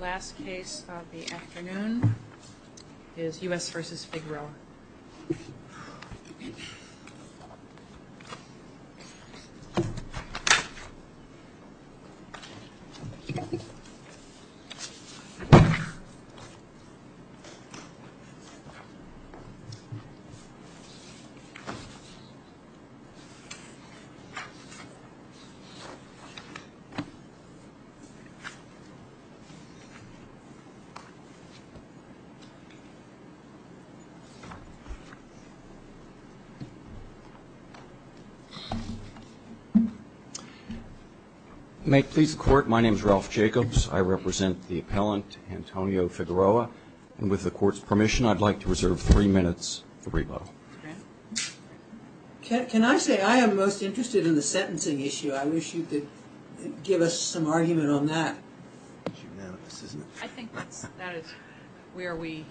Last case of the afternoon is U.S. v. Figueroa. May it please the court, my name is Ralph Jacobs. I represent the appellant Antonio Figueroa. And with the court's permission, I'd like to reserve three minutes for rebuttal. Can I say I am most interested in the sentencing issue. I wish you could give us some argument on that. I think that is where we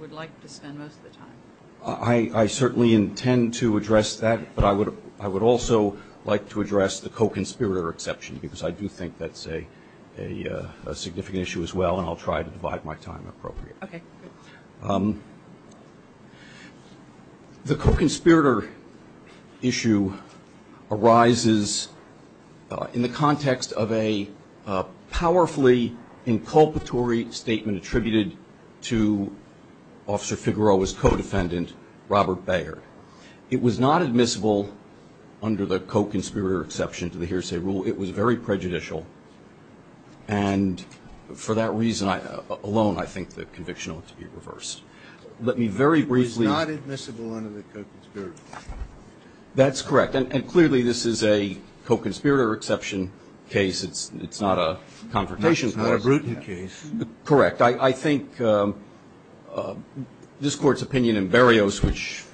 would like to spend most of the time. I certainly intend to address that, but I would also like to address the co-conspirator exception because I do think that's a significant issue as well and I'll try to divide my time appropriately. The co-conspirator issue arises in the context of a powerfully inculpatory statement attributed to Officer Figueroa's co-defendant Robert Bayard. It was not admissible under the co-conspirator exception to the hearsay rule. It was very prejudicial and for that reason alone I think the conviction ought to be reversed. Let me very briefly. It was not admissible under the co-conspirator exception. That's correct. And clearly this is a co-conspirator exception case. It's not a confrontation case. It's not a Bruton case. Correct. I think this Court's opinion in Berrios, which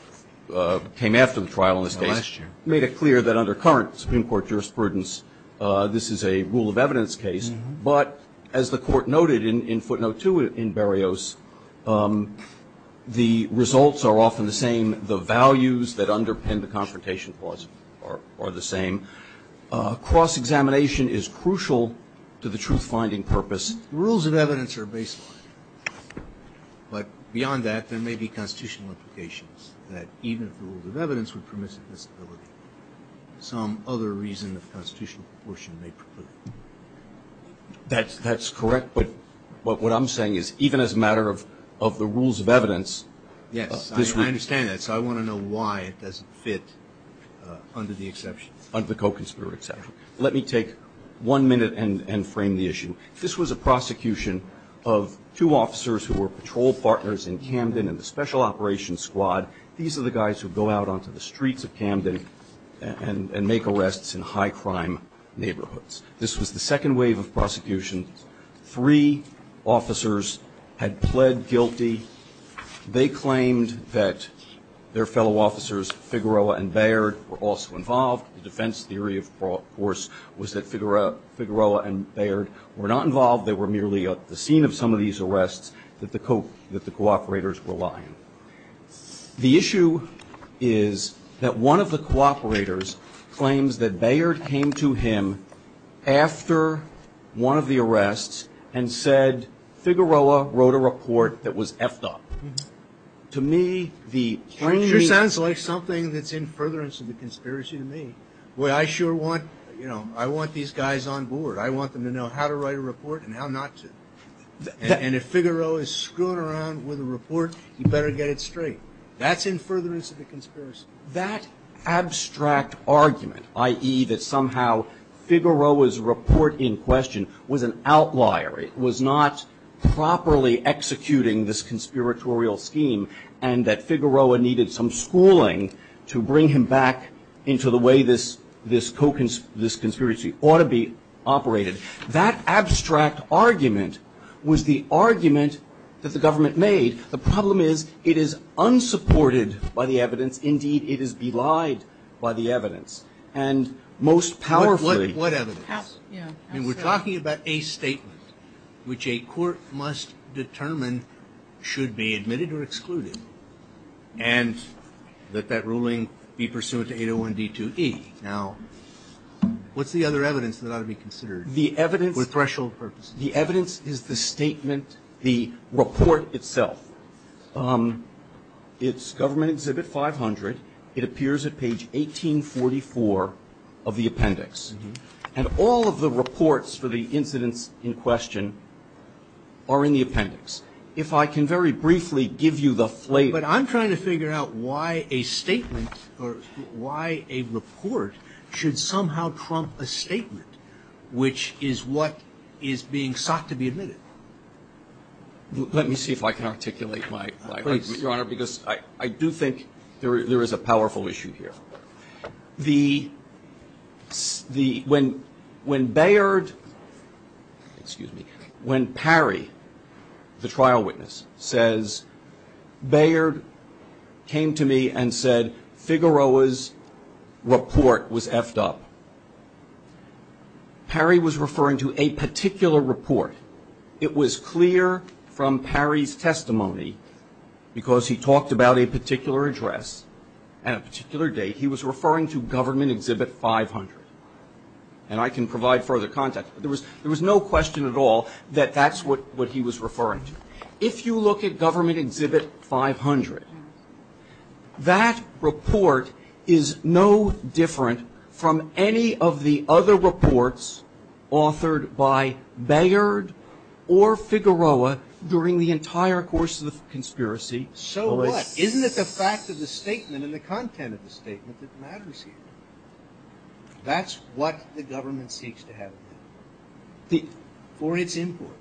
came after the trial in this case, made it clear that under current Supreme Court jurisprudence this is a rule of evidence case. But as the Court noted in footnote two in Berrios, the results are often the same. The values that underpin the confrontation clause are the same. Cross-examination is crucial to the truth-finding purpose. Rules of evidence are a baseline. But beyond that, there may be constitutional implications that even if the rules of evidence would permit this ability, some other reason of constitutional proportion may preclude it. That's correct. But what I'm saying is even as a matter of the rules of evidence Yes. I understand that. So I want to know why it doesn't fit under the exception. Under the co-conspirator exception. Let me take one minute and frame the issue. This was a prosecution of two officers who were patrol partners in Camden in the special operations squad. These are the guys who go out onto the streets of Camden and make arrests in high-crime neighborhoods. This was the second wave of prosecution. Three officers had pled guilty. They claimed that their fellow officers, Figueroa and Baird, were also involved. The defense theory, of course, was that Figueroa and Baird were not involved. They were merely at the scene of some of these arrests that the co-operators were lying. The issue is that one of the co-operators claims that Baird came to him after one of the arrests and said, Figueroa wrote a report that was F-ed up. To me, the framing It sure sounds like something that's in furtherance of the conspiracy to me. Well, I sure want these guys on board. I want them to know how to write a report and how not to. And if Figueroa is screwing around with a report, he better get it straight. That's in furtherance of the conspiracy. That abstract argument, i.e., that somehow Figueroa's report in question was an outlier. It was not properly executing this conspiratorial scheme and that Figueroa needed some schooling to bring him back into the way this conspiracy ought to be operated. That abstract argument was the argument that the government made. The problem is it is unsupported by the evidence. Indeed, it is belied by the evidence. And most powerfully What evidence? I mean, we're talking about a statement which a court must determine should be admitted or excluded and that that ruling be pursuant to 801D2E. Now, what's the other The evidence is the statement, the report itself. It's Government Exhibit 500. It appears at page 1844 of the appendix. And all of the reports for the incidents in question are in the appendix. If I can very briefly give you the flavor. But I'm trying to figure out why a statement or why a report should somehow trump a statement which is what is being sought to be admitted. Let me see if I can articulate my, your Honor, because I do think there is a powerful issue here. The, the, when, when Bayard, excuse me, when Parry, the trial witness, says Bayard came to me and said Figueroa's report was effed up. Parry was referring to a particular report. It was clear from Parry's testimony, because he talked about a particular address and a particular date, he was referring to Government Exhibit 500. And I can provide further context. There was, there was no question at all that that's what, what he was referring to. If you look at Government Exhibit 500, that report is no different from any of the other reports authored by Bayard or Figueroa during the entire course of the conspiracy. So what? Isn't it the fact of the statement and the content of the statement that matters here? That's what the government seeks to have for its import,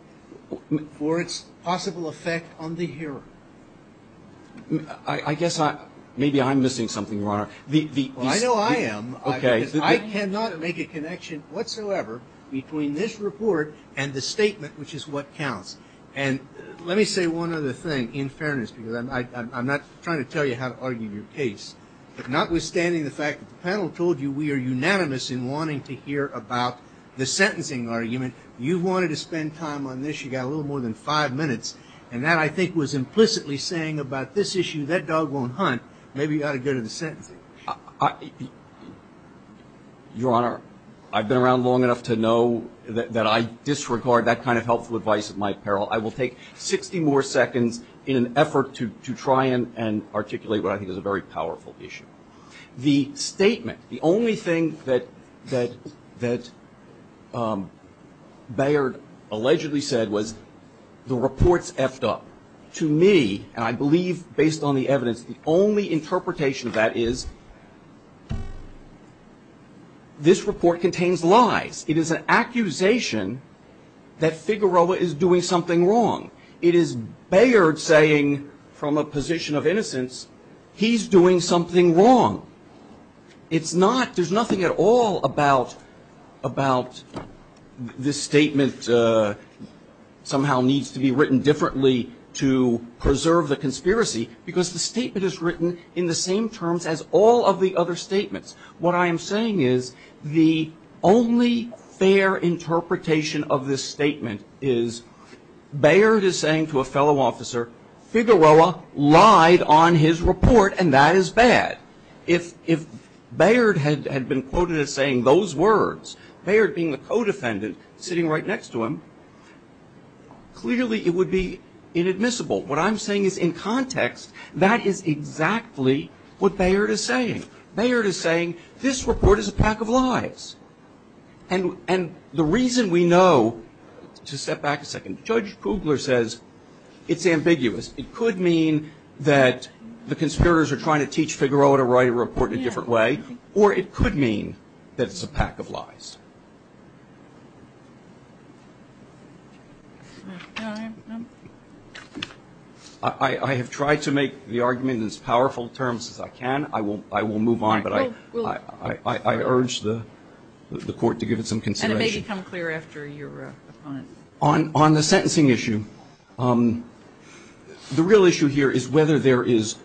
for its possible effect on the hearer. I, I guess I, maybe I'm missing something, Your Honor. The, the. Well, I know I am. Okay. Because I cannot make a connection whatsoever between this report and the statement which is what counts. And let me say one other thing, in fairness, because I, I, I'm not trying to tell you how to argue your case. But notwithstanding the fact that the panel told you we are unanimous in wanting to hear about the sentencing argument, you wanted to spend time on this. You got a little more than five minutes. And that I think was implicitly saying about this issue, that dog won't hunt. Maybe you ought to go to the sentencing. I, Your Honor, I've been around long enough to know that, that I disregard that kind of helpful advice at my peril. I will take 60 more seconds in an effort to, to try and articulate what I think is a very powerful issue. The statement, the only thing that, that, that Bayard allegedly said was the report's effed up. To me, and I believe based on the evidence, the only is doing something wrong. It is Bayard saying from a position of innocence, he's doing something wrong. It's not, there's nothing at all about, about this statement somehow needs to be written differently to preserve the conspiracy. Because the statement is written in the same terms as all of the other statements. What I am saying is the only fair interpretation of this statement is Bayard is saying to a fellow officer, Figueroa lied on his report and that is bad. If, if Bayard had, had been quoted as saying those words, Bayard being the co-defendant sitting right next to him, clearly it would be inadmissible. What I'm saying is in context, that is exactly what Bayard is saying. Bayard is saying this report is a pack of lies. And, and the reason we know, to step back a second, Judge Kugler says it's ambiguous. It could mean that the conspirators are trying to teach Figueroa to write a report in a different way or it could mean that it's a pack of lies. I, I have tried to make the argument in as powerful terms as I can. I will, I will move on, but I, I, I, I urge the, the court to give it some consideration. On, on the sentencing issue, the real issue here is whether there is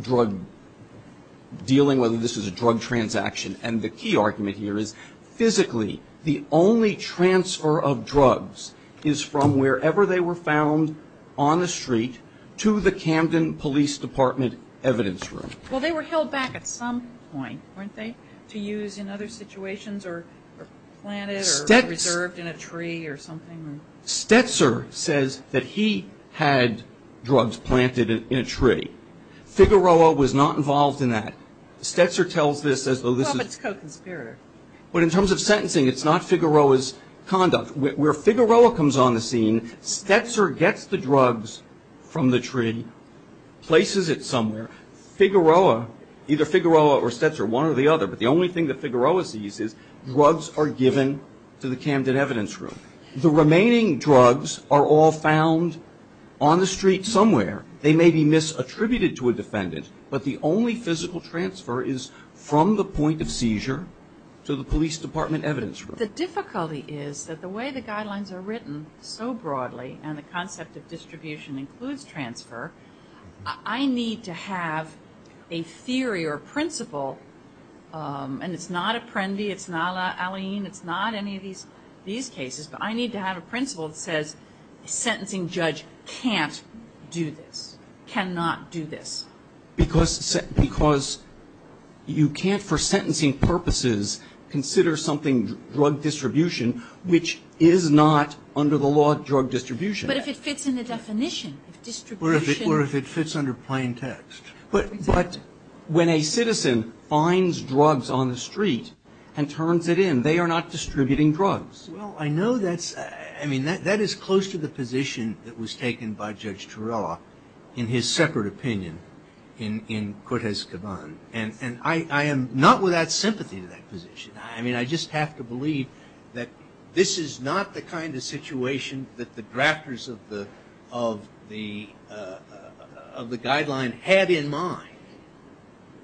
drug dealing, whether this is a drug transaction. And the key argument here is physically the only transfer of drugs is from wherever they were found on the street to the Camden Police Department evidence room. Well, they were held back at some point, weren't they, to use in other situations or, or planted or reserved in a tree or something? Stetzer says that he had drugs planted in a tree. Figueroa was not involved in that. Stetzer tells this as though this is. Well, but it's co-conspirator. But in terms of sentencing, it's not Figueroa's conduct. Where Figueroa comes on the scene, Stetzer gets the drugs from the tree, places it somewhere. Figueroa, either Figueroa or Stetzer, one or the other, but the only thing that Figueroa sees is drugs are given to the Camden evidence room. The remaining drugs are all found on the street somewhere. They may be misattributed to a defendant, but the only physical transfer is from the point of seizure to the police department evidence room. But the difficulty is that the way the guidelines are written so broadly, and the concept of distribution includes transfer, I need to have a theory or a principle, and it's not Apprendi, it's not Alleyne, it's not any of these, these cases, but I need to have a principle that says a sentencing judge can't do this, cannot do this. Because you can't, for sentencing purposes, consider something drug distribution, which is not under the law drug distribution. But if it fits in the definition, if distribution or if it fits under plain text. But when a citizen finds drugs on the street and turns it in, they are not distributing drugs. Well, I know that's, I mean, that is close to the position that was taken by Judge in Cortez Caban, and I am not without sympathy to that position. I mean, I just have to believe that this is not the kind of situation that the drafters of the, of the, of the guideline had in mind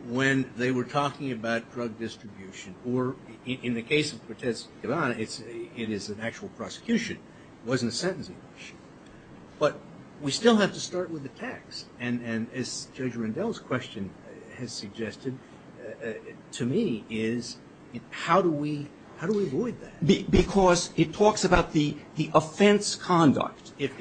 when they were talking about drug distribution. Or in the case of Cortez Caban, it is an actual prosecution, it wasn't a sentencing issue. But we still have to start with the text. And as Judge Rendell's question has suggested, to me, is how do we, how do we avoid that? Because it talks about the offense conduct. If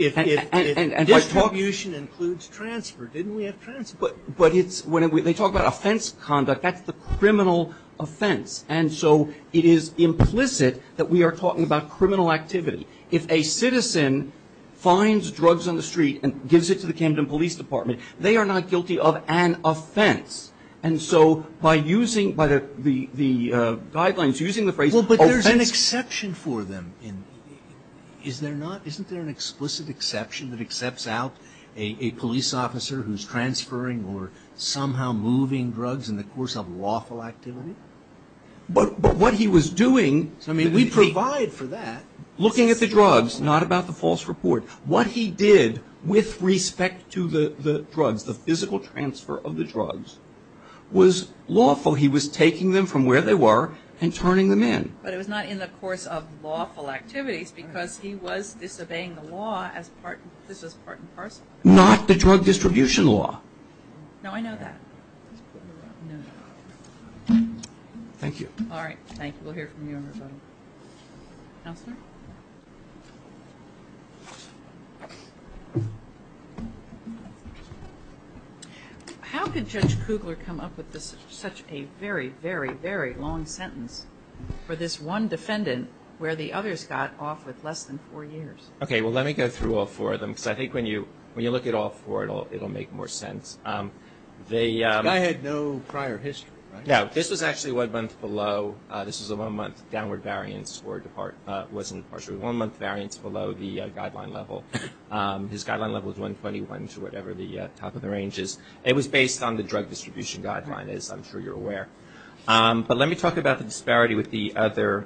distribution includes transfer, didn't we have transfer? But it's, when they talk about offense conduct, that's the criminal offense. And so it is implicit that we are talking about criminal activity. If a citizen finds drugs on the street and gives it to the Camden Police Department, they are not guilty of an offense. And so, by using, by the, the, the guidelines, using the phrase, offense. Well, but there's an exception for them in, is there not, isn't there an explicit exception that accepts out a, a police officer who's transferring or somehow moving drugs in the course of lawful activity? But, but what he was doing, I mean, we provide for that. Looking at the drugs, not about the false report. What he did with respect to the, the drugs, the physical transfer of the drugs, was lawful. He was taking them from where they were and turning them in. But it was not in the course of lawful activities, because he was disobeying the law as part, this was part and parcel. Not the drug distribution law. No, I know that. Thank you. All right, thank you. We'll hear from you and everybody. Counselor? How could Judge Kugler come up with this, such a very, very, very long sentence for this one defendant, where the others got off with less than four years? Okay, well let me go through all four of them, because I think when you, when you look at all four, it'll, it'll make more sense. The. This guy had no prior history, right? No, this was actually one month below. This was a one month downward variance or depart, wasn't partially one month variance below the guideline level. His guideline level was 121 to whatever the top of the range is. It was based on the drug distribution guideline, as I'm sure you're aware. But let me talk about the disparity with the other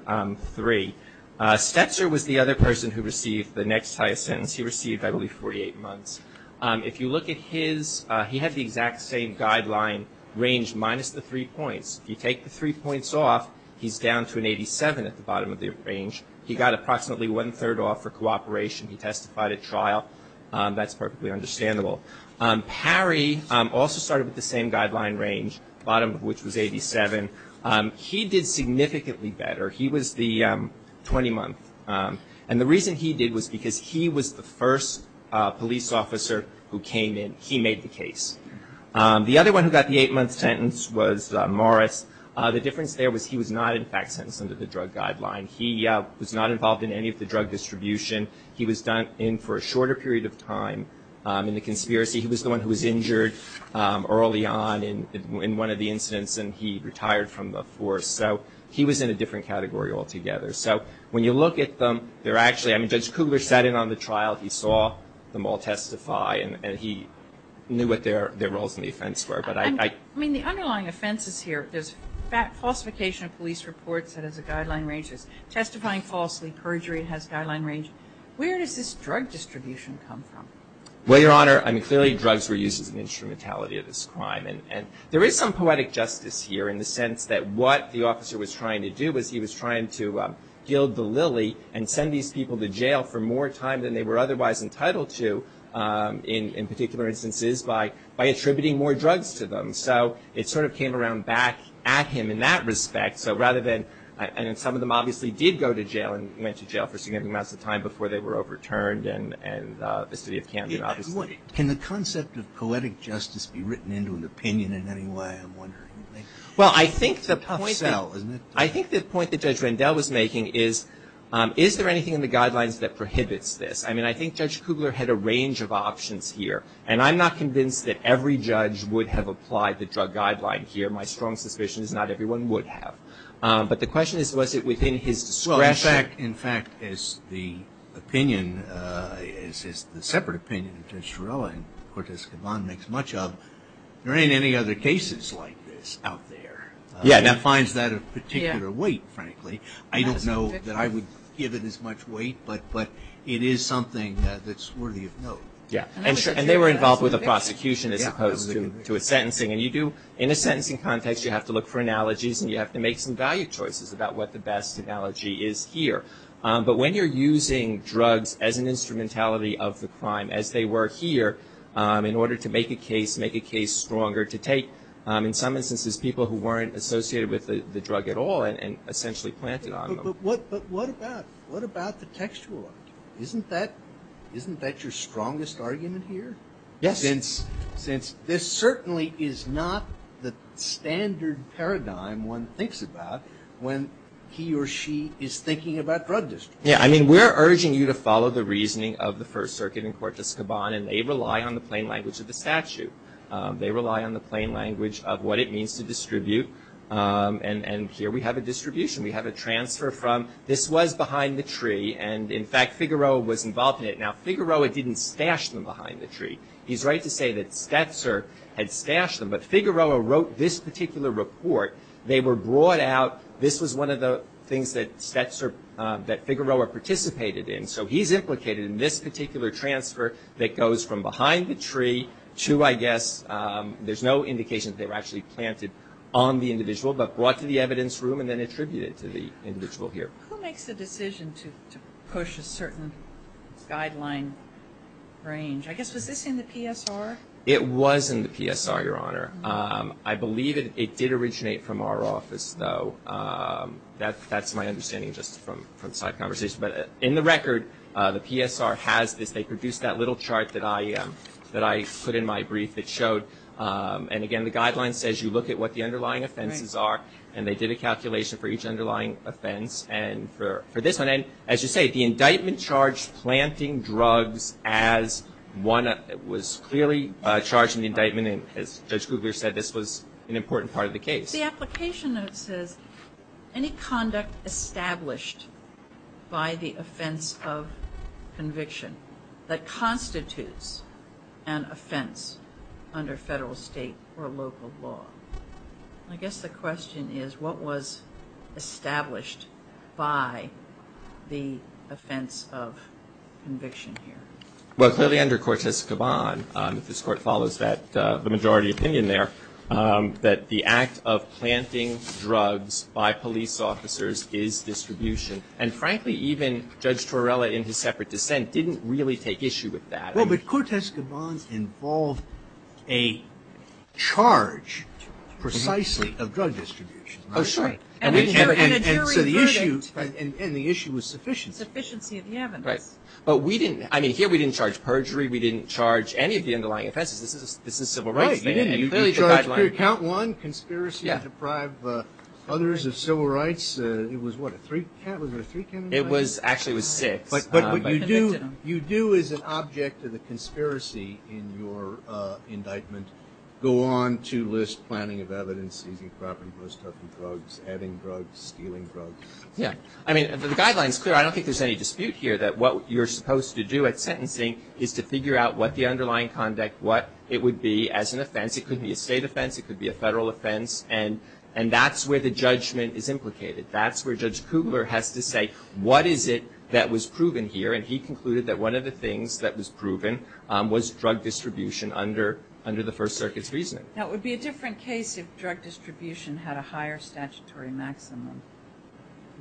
three. Stetzer was the other person who received the next highest sentence. He received, I believe, 48 months. If you look at his he had the exact same guideline range minus the three points. You take the three points off, he's down to an 87 at the bottom of the range. He got approximately one third off for cooperation. He testified at trial. That's perfectly understandable. Parry also started with the same guideline range, bottom of which was 87. He did significantly better. He was the 20 month. And the reason he did was because he was the first police officer who came in. He made the case. The other one who got the eight month sentence was Morris. The difference there was he was not in fact sentenced under the drug guideline. He was not involved in any of the drug distribution. He was done in for a shorter period of time in the conspiracy. He was the one who was injured early on in one of the incidents and he retired from the force. So he was in a different category altogether. So when you look at them, they're actually, I mean, Judge Kugler sat in on the trial, he saw them all testify, and he knew what their roles in the offense were. But I- I mean, the underlying offenses here, there's falsification of police reports that has a guideline range, there's testifying falsely, perjury has guideline range. Where does this drug distribution come from? Well, Your Honor, I mean, clearly drugs were used as an instrumentality of this crime. And there is some poetic justice here in the sense that what the officer was trying to do was he was trying to gild the lily and send these people to jail for more time than they were otherwise entitled to, in particular instances, by attributing more drugs to them. So it sort of came around back at him in that respect. So rather than, and some of them obviously did go to jail and went to jail for significant amounts of time before they were overturned, and the city of Camden obviously- Can the concept of poetic justice be written into an opinion in any way, I'm wondering? Well, I think the point- It's a tough sell, isn't it? I think the point that Judge Rendell was making is, is there anything in the guidelines that prohibits this? I mean, I think Judge Kugler had a range of options here. And I'm not convinced that every judge would have applied the drug guideline here. My strong suspicion is not everyone would have. But the question is, was it within his discretion? In fact, as the opinion, as the separate opinion of Judge Torello and Cortez Caban makes much of, there ain't any other cases like this out there. Yeah, that finds that a particular weight, frankly. I don't know that I would give it as much weight, but it is something that's worthy of note. Yeah, and they were involved with a prosecution as opposed to a sentencing. And you do, in a sentencing context, you have to look for analogies and you have to make some value choices about what the best analogy is here. But when you're using drugs as an instrumentality of the crime, as they were here, in order to make a case, make a case stronger to take. In some instances, people who weren't associated with the drug at all and essentially planted on them. But what about the textual argument? Isn't that your strongest argument here? Yes. Since this certainly is not the standard paradigm one thinks about when he or she is thinking about drug distribution. Yeah, I mean, we're urging you to follow the reasoning of the First Circuit and Cortez Caban, and they rely on the plain language of the statute. They rely on the plain language of what it means to distribute. And here we have a distribution. We have a transfer from, this was behind the tree, and in fact, Figueroa was involved in it. Now, Figueroa didn't stash them behind the tree. He's right to say that Stetzer had stashed them. But Figueroa wrote this particular report. They were brought out. This was one of the things that Figueroa participated in. So he's implicated in this particular transfer that goes from behind the tree to, I guess, there's no indication that they were actually planted on the individual, but brought to the evidence room and then attributed to the individual here. Who makes the decision to push a certain guideline range? I guess, was this in the PSR? It was in the PSR, Your Honor. I believe it did originate from our office, though. That's my understanding just from side conversation. But in the record, the PSR has this. They produced that little chart that I put in my brief that showed, and again, the guideline says you look at what the underlying offenses are. And they did a calculation for each underlying offense. And for this one, as you say, the indictment charged planting drugs as one that was clearly charged in the indictment. And as Judge Kugler said, this was an important part of the case. The application note says, any conduct established by the offense of conviction that constitutes an offense under federal, state, or local law. I guess the question is, what was established by the offense of conviction here? Well, clearly under Cortes Caban, this court follows that, the majority opinion there, that the act of planting drugs by police officers is distribution. And frankly, even Judge Torella, in his separate dissent, didn't really take issue with that. Well, but Cortes Caban involved a charge, precisely, of drug distribution. Oh, sorry. And a jury verdict. And so the issue was sufficiency. Sufficiency of the evidence. Right. But we didn't, I mean, here we didn't charge perjury. This is a civil rights thing. Right, you didn't. You charge per count one, conspiracy to deprive others of civil rights. It was what, a three count? Was it a three count indictment? It was, actually it was six. But what you do, you do as an object of the conspiracy in your indictment, go on to list planting of evidence, using crop and growstuff and drugs, adding drugs, stealing drugs. Yeah. I mean, the guideline's clear. I don't think there's any dispute here that what you're supposed to do at sentencing is to figure out what the underlying conduct, what it would be as an offense. It could be a state offense. It could be a federal offense. And that's where the judgment is implicated. That's where Judge Kugler has to say, what is it that was proven here? And he concluded that one of the things that was proven was drug distribution under the First Circuit's reasoning. Now, it would be a different case if drug distribution had a higher statutory maximum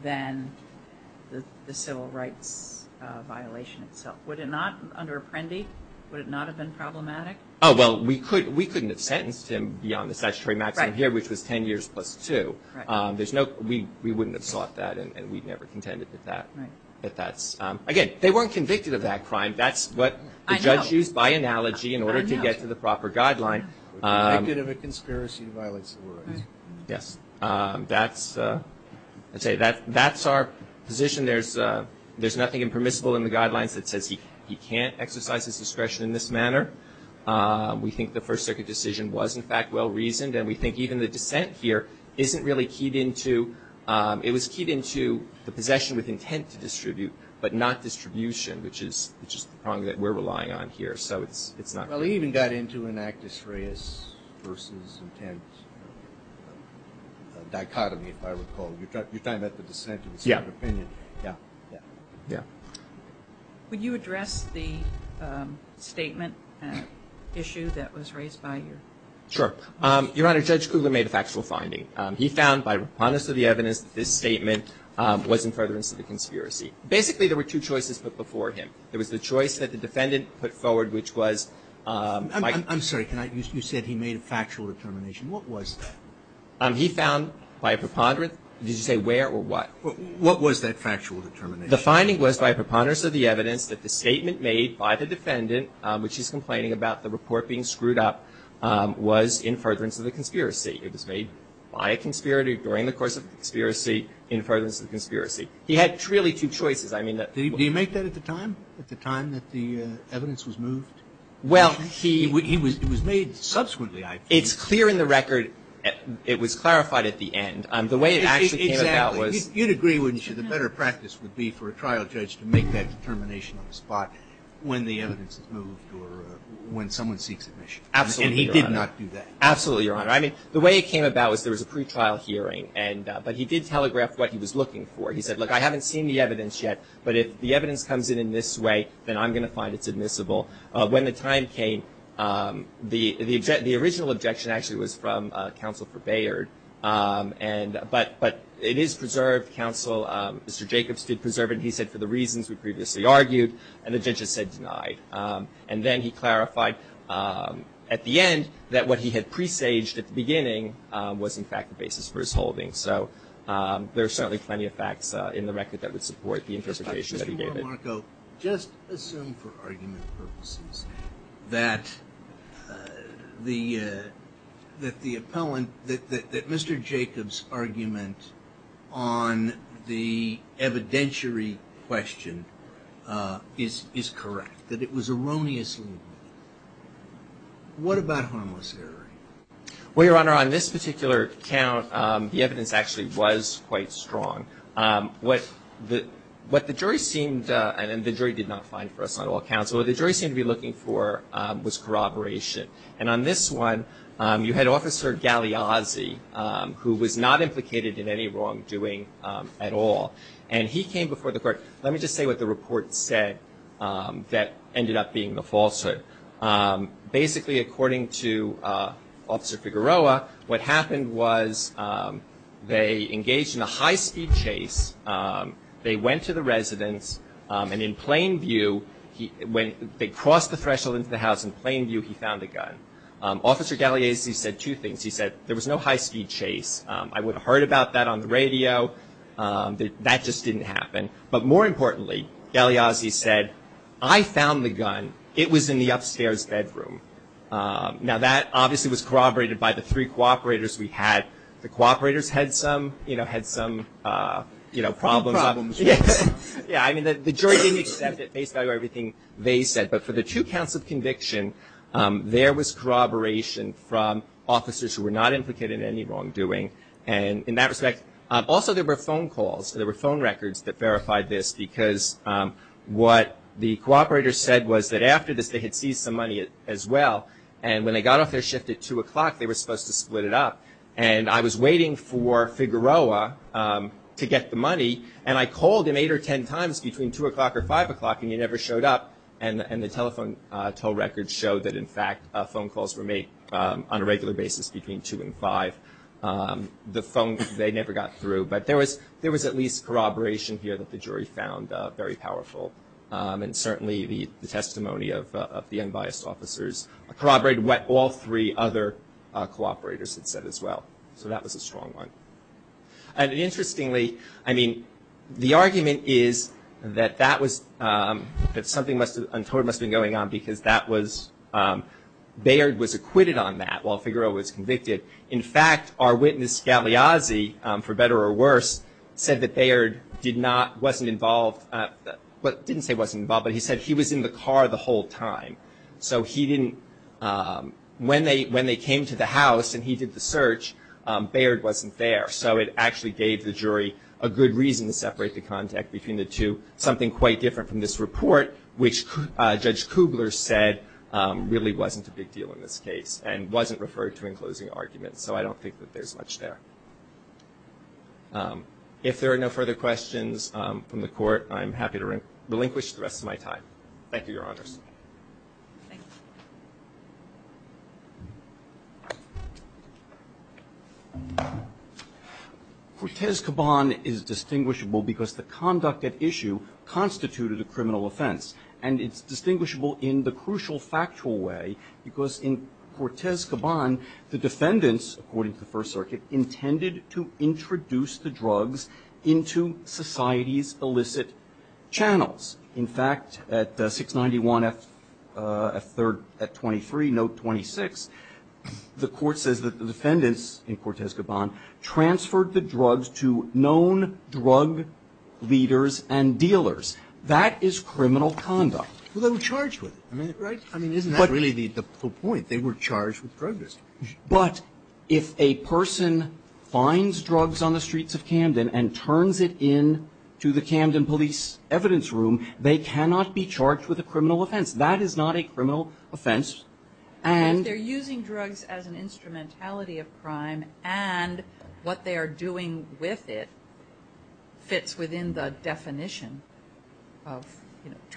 than the civil rights violation itself. Would it not, under Apprendi, would it not have been problematic? Oh, well, we couldn't have sentenced him beyond the statutory maximum here, which was 10 years plus two. There's no, we wouldn't have sought that, and we'd never contended with that. But that's, again, they weren't convicted of that crime. That's what the judge used by analogy in order to get to the proper guideline. We're convicted of a conspiracy to violate civil rights. Yes. That's, I'd say, that's our position. There's nothing impermissible in the guidelines that says he can't exercise his discretion in this manner. We think the First Circuit decision was, in fact, well-reasoned. And we think even the dissent here isn't really keyed into, it was keyed into the possession with intent to distribute, but not distribution, which is the problem that we're relying on here. So it's not. Well, he even got into an Actus Reus versus intent dichotomy, if I recall. You're talking about the dissent and the second opinion. Yeah. Yeah. Yeah. Would you address the statement issue that was raised by your? Sure. Your Honor, Judge Kugler made a factual finding. He found, by preponderance of the evidence, that this statement was in furtherance to the conspiracy. Basically, there were two choices put before him. There was the choice that the defendant put forward, which was, Mike. I'm sorry. You said he made a factual determination. What was that? He found, by a preponderance, did you say where or what? What was that factual determination? The finding was, by preponderance of the evidence, that the statement made by the defendant, which he's complaining about, the report being screwed up, was in furtherance to the conspiracy. It was made by a conspirator during the course of the conspiracy in furtherance to the conspiracy. He had really two choices. I mean that. Did he make that at the time? At the time that the evidence was moved? Well, he. It was made subsequently, I believe. It was clarified at the end. The way it actually came about was. Exactly. You'd agree, wouldn't you, the better practice would be for a trial judge to make that determination on the spot when the evidence is moved or when someone seeks admission. Absolutely, Your Honor. And he did not do that. Absolutely, Your Honor. I mean, the way it came about was there was a pretrial hearing, but he did telegraph what he was looking for. He said, look, I haven't seen the evidence yet, but if the evidence comes in in this way, then I'm going to find it's admissible. When the time came, the original objection actually was from counsel for Bayard, but it is preserved. Counsel, Mr. Jacobs, did preserve it. He said for the reasons we previously argued, and the judge has said denied. And then he clarified at the end that what he had presaged at the beginning was in fact the basis for his holding. So there are certainly plenty of facts in the record that would support the interpretation that he gave it. Well, Your Honor, on this particular count, the evidence actually was quite strong. What the jury seemed, and the jury did not find for us on all counts, what the jury seemed to be looking for was corroboration. And on this one, you had Officer Galiazzi, who was not implicated in any wrongdoing at all. And he came before the court. Let me just say what the report said that ended up being the falsehood. Basically, according to Officer Figueroa, what happened was they engaged in a high-speed chase. They went to the residence, and in plain view, when they crossed the threshold into the house in plain view, he found a gun. Officer Galiazzi said two things. He said there was no high-speed chase. I would have heard about that on the radio. That just didn't happen. But more importantly, Galiazzi said, I found the gun. It was in the upstairs bedroom. Now that, obviously, was corroborated by the three cooperators we had. The cooperators had some, you know, had some, you know, problems. Yeah. I mean, the jury didn't accept it based on everything they said. But for the two counts of conviction, there was corroboration from officers who were not implicated in any wrongdoing. And in that respect, also there were phone calls, there were phone records that verified this because what the cooperators said was that after this, they had seized some money as well. And when they got off their shift at 2 o'clock, they were supposed to split it up. And I was waiting for Figueroa to get the money, and I called him eight or ten times between 2 o'clock or 5 o'clock, and he never showed up. And the telephone toll records showed that, in fact, phone calls were made on a regular basis between 2 and 5. The phone, they never got through. But there was at least corroboration here that the jury found very powerful. And certainly the testimony of the unbiased officers corroborated what all three other cooperators had said as well. So that was a strong one. And interestingly, I mean, the argument is that that was, that something untoward must have been going on because that was, Bayard was acquitted on that while Figueroa was convicted. In fact, our witness Scaliazzi, for better or worse, said that Bayard did not, wasn't involved, didn't say wasn't involved, but he said he was in the car the whole time. So he didn't, when they came to the house and he did the search, Bayard wasn't there. So it actually gave the jury a good reason to separate the contact between the two, something quite different from this report, which Judge Kugler said really wasn't a big deal in this argument. So I don't think that there's much there. If there are no further questions from the court, I'm happy to relinquish the rest of my time. Thank you, Your Honors. Thank you. Cortez Caban is distinguishable because the conduct at issue constituted a criminal offense. And it's distinguishable in the crucial factual way because in Cortez Caban, the defendants, according to the First Circuit, intended to introduce the drugs into society's illicit channels. In fact, at 691 F3rd at 23, note 26, the court says that the defendants in Cortez Caban transferred the drugs to known drug leaders and dealers. That is criminal conduct. Well, they were charged with it, right? I mean, isn't that really the point? They were charged with drug use. But if a person finds drugs on the streets of Camden and turns it into the Camden police evidence room, they cannot be charged with a criminal offense. That is not a criminal offense. And if they're using drugs as an instrumentality of crime and what they are doing with it fits within the definition of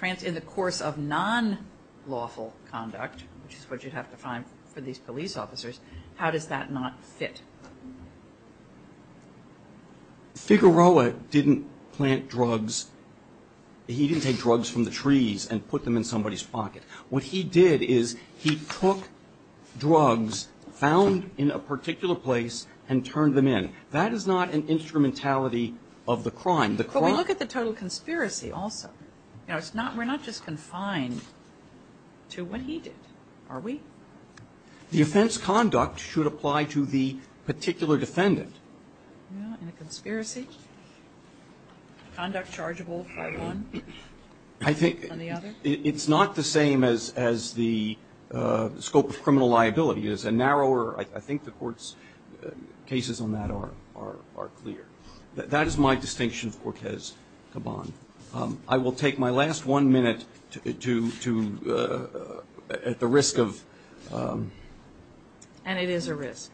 in the course of non-lawful conduct, which is what you'd have to find for these police officers, how does that not fit? Figueroa didn't plant drugs. He didn't take drugs from the trees and put them in somebody's pocket. What he did is he took drugs found in a particular place and turned them in. That is not an instrumentality of the crime. The crime But we look at the total conspiracy also. You know, it's not we're not just confined to what he did, are we? The offense conduct should apply to the particular defendant. In a conspiracy, conduct chargeable for one and the other? I think it's not the same as the scope of criminal liability. It's a narrower, I think the court's cases on that are clear. That is my distinction of Cortez Caban. I will take my last one minute to at the risk of And it is a risk.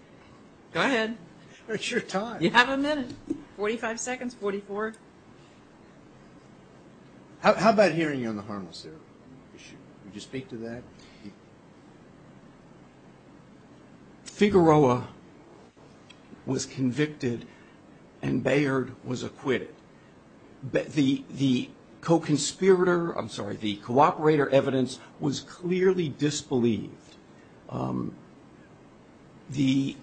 Go ahead. It's your time. You have a minute. 45 seconds, 44. How about hearing you on the harmless therapy issue? Would you speak to that? Figueroa was convicted and Bayard was acquitted. The co-conspirator, I'm sorry, the co-operator evidence was clearly disbelieved. The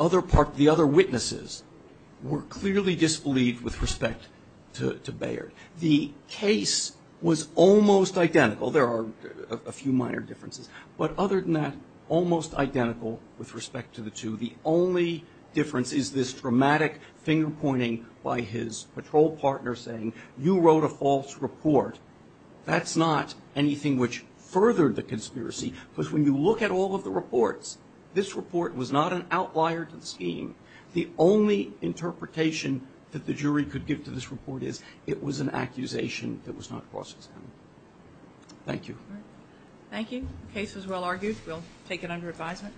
other witnesses were clearly disbelieved with respect to Bayard. The case was almost identical. There are a few minor differences. But other than that, almost identical with respect to the two. The only difference is this dramatic finger pointing by his patrol partner saying you wrote a false report. That's not anything which furthered the conspiracy. Because when you look at all of the reports, this report was not an outlier to the scheme. The only interpretation that the jury could give to this report is it was an accusation that was not cross-examined. Thank you. Thank you. The case was well argued. We'll take it under advisement.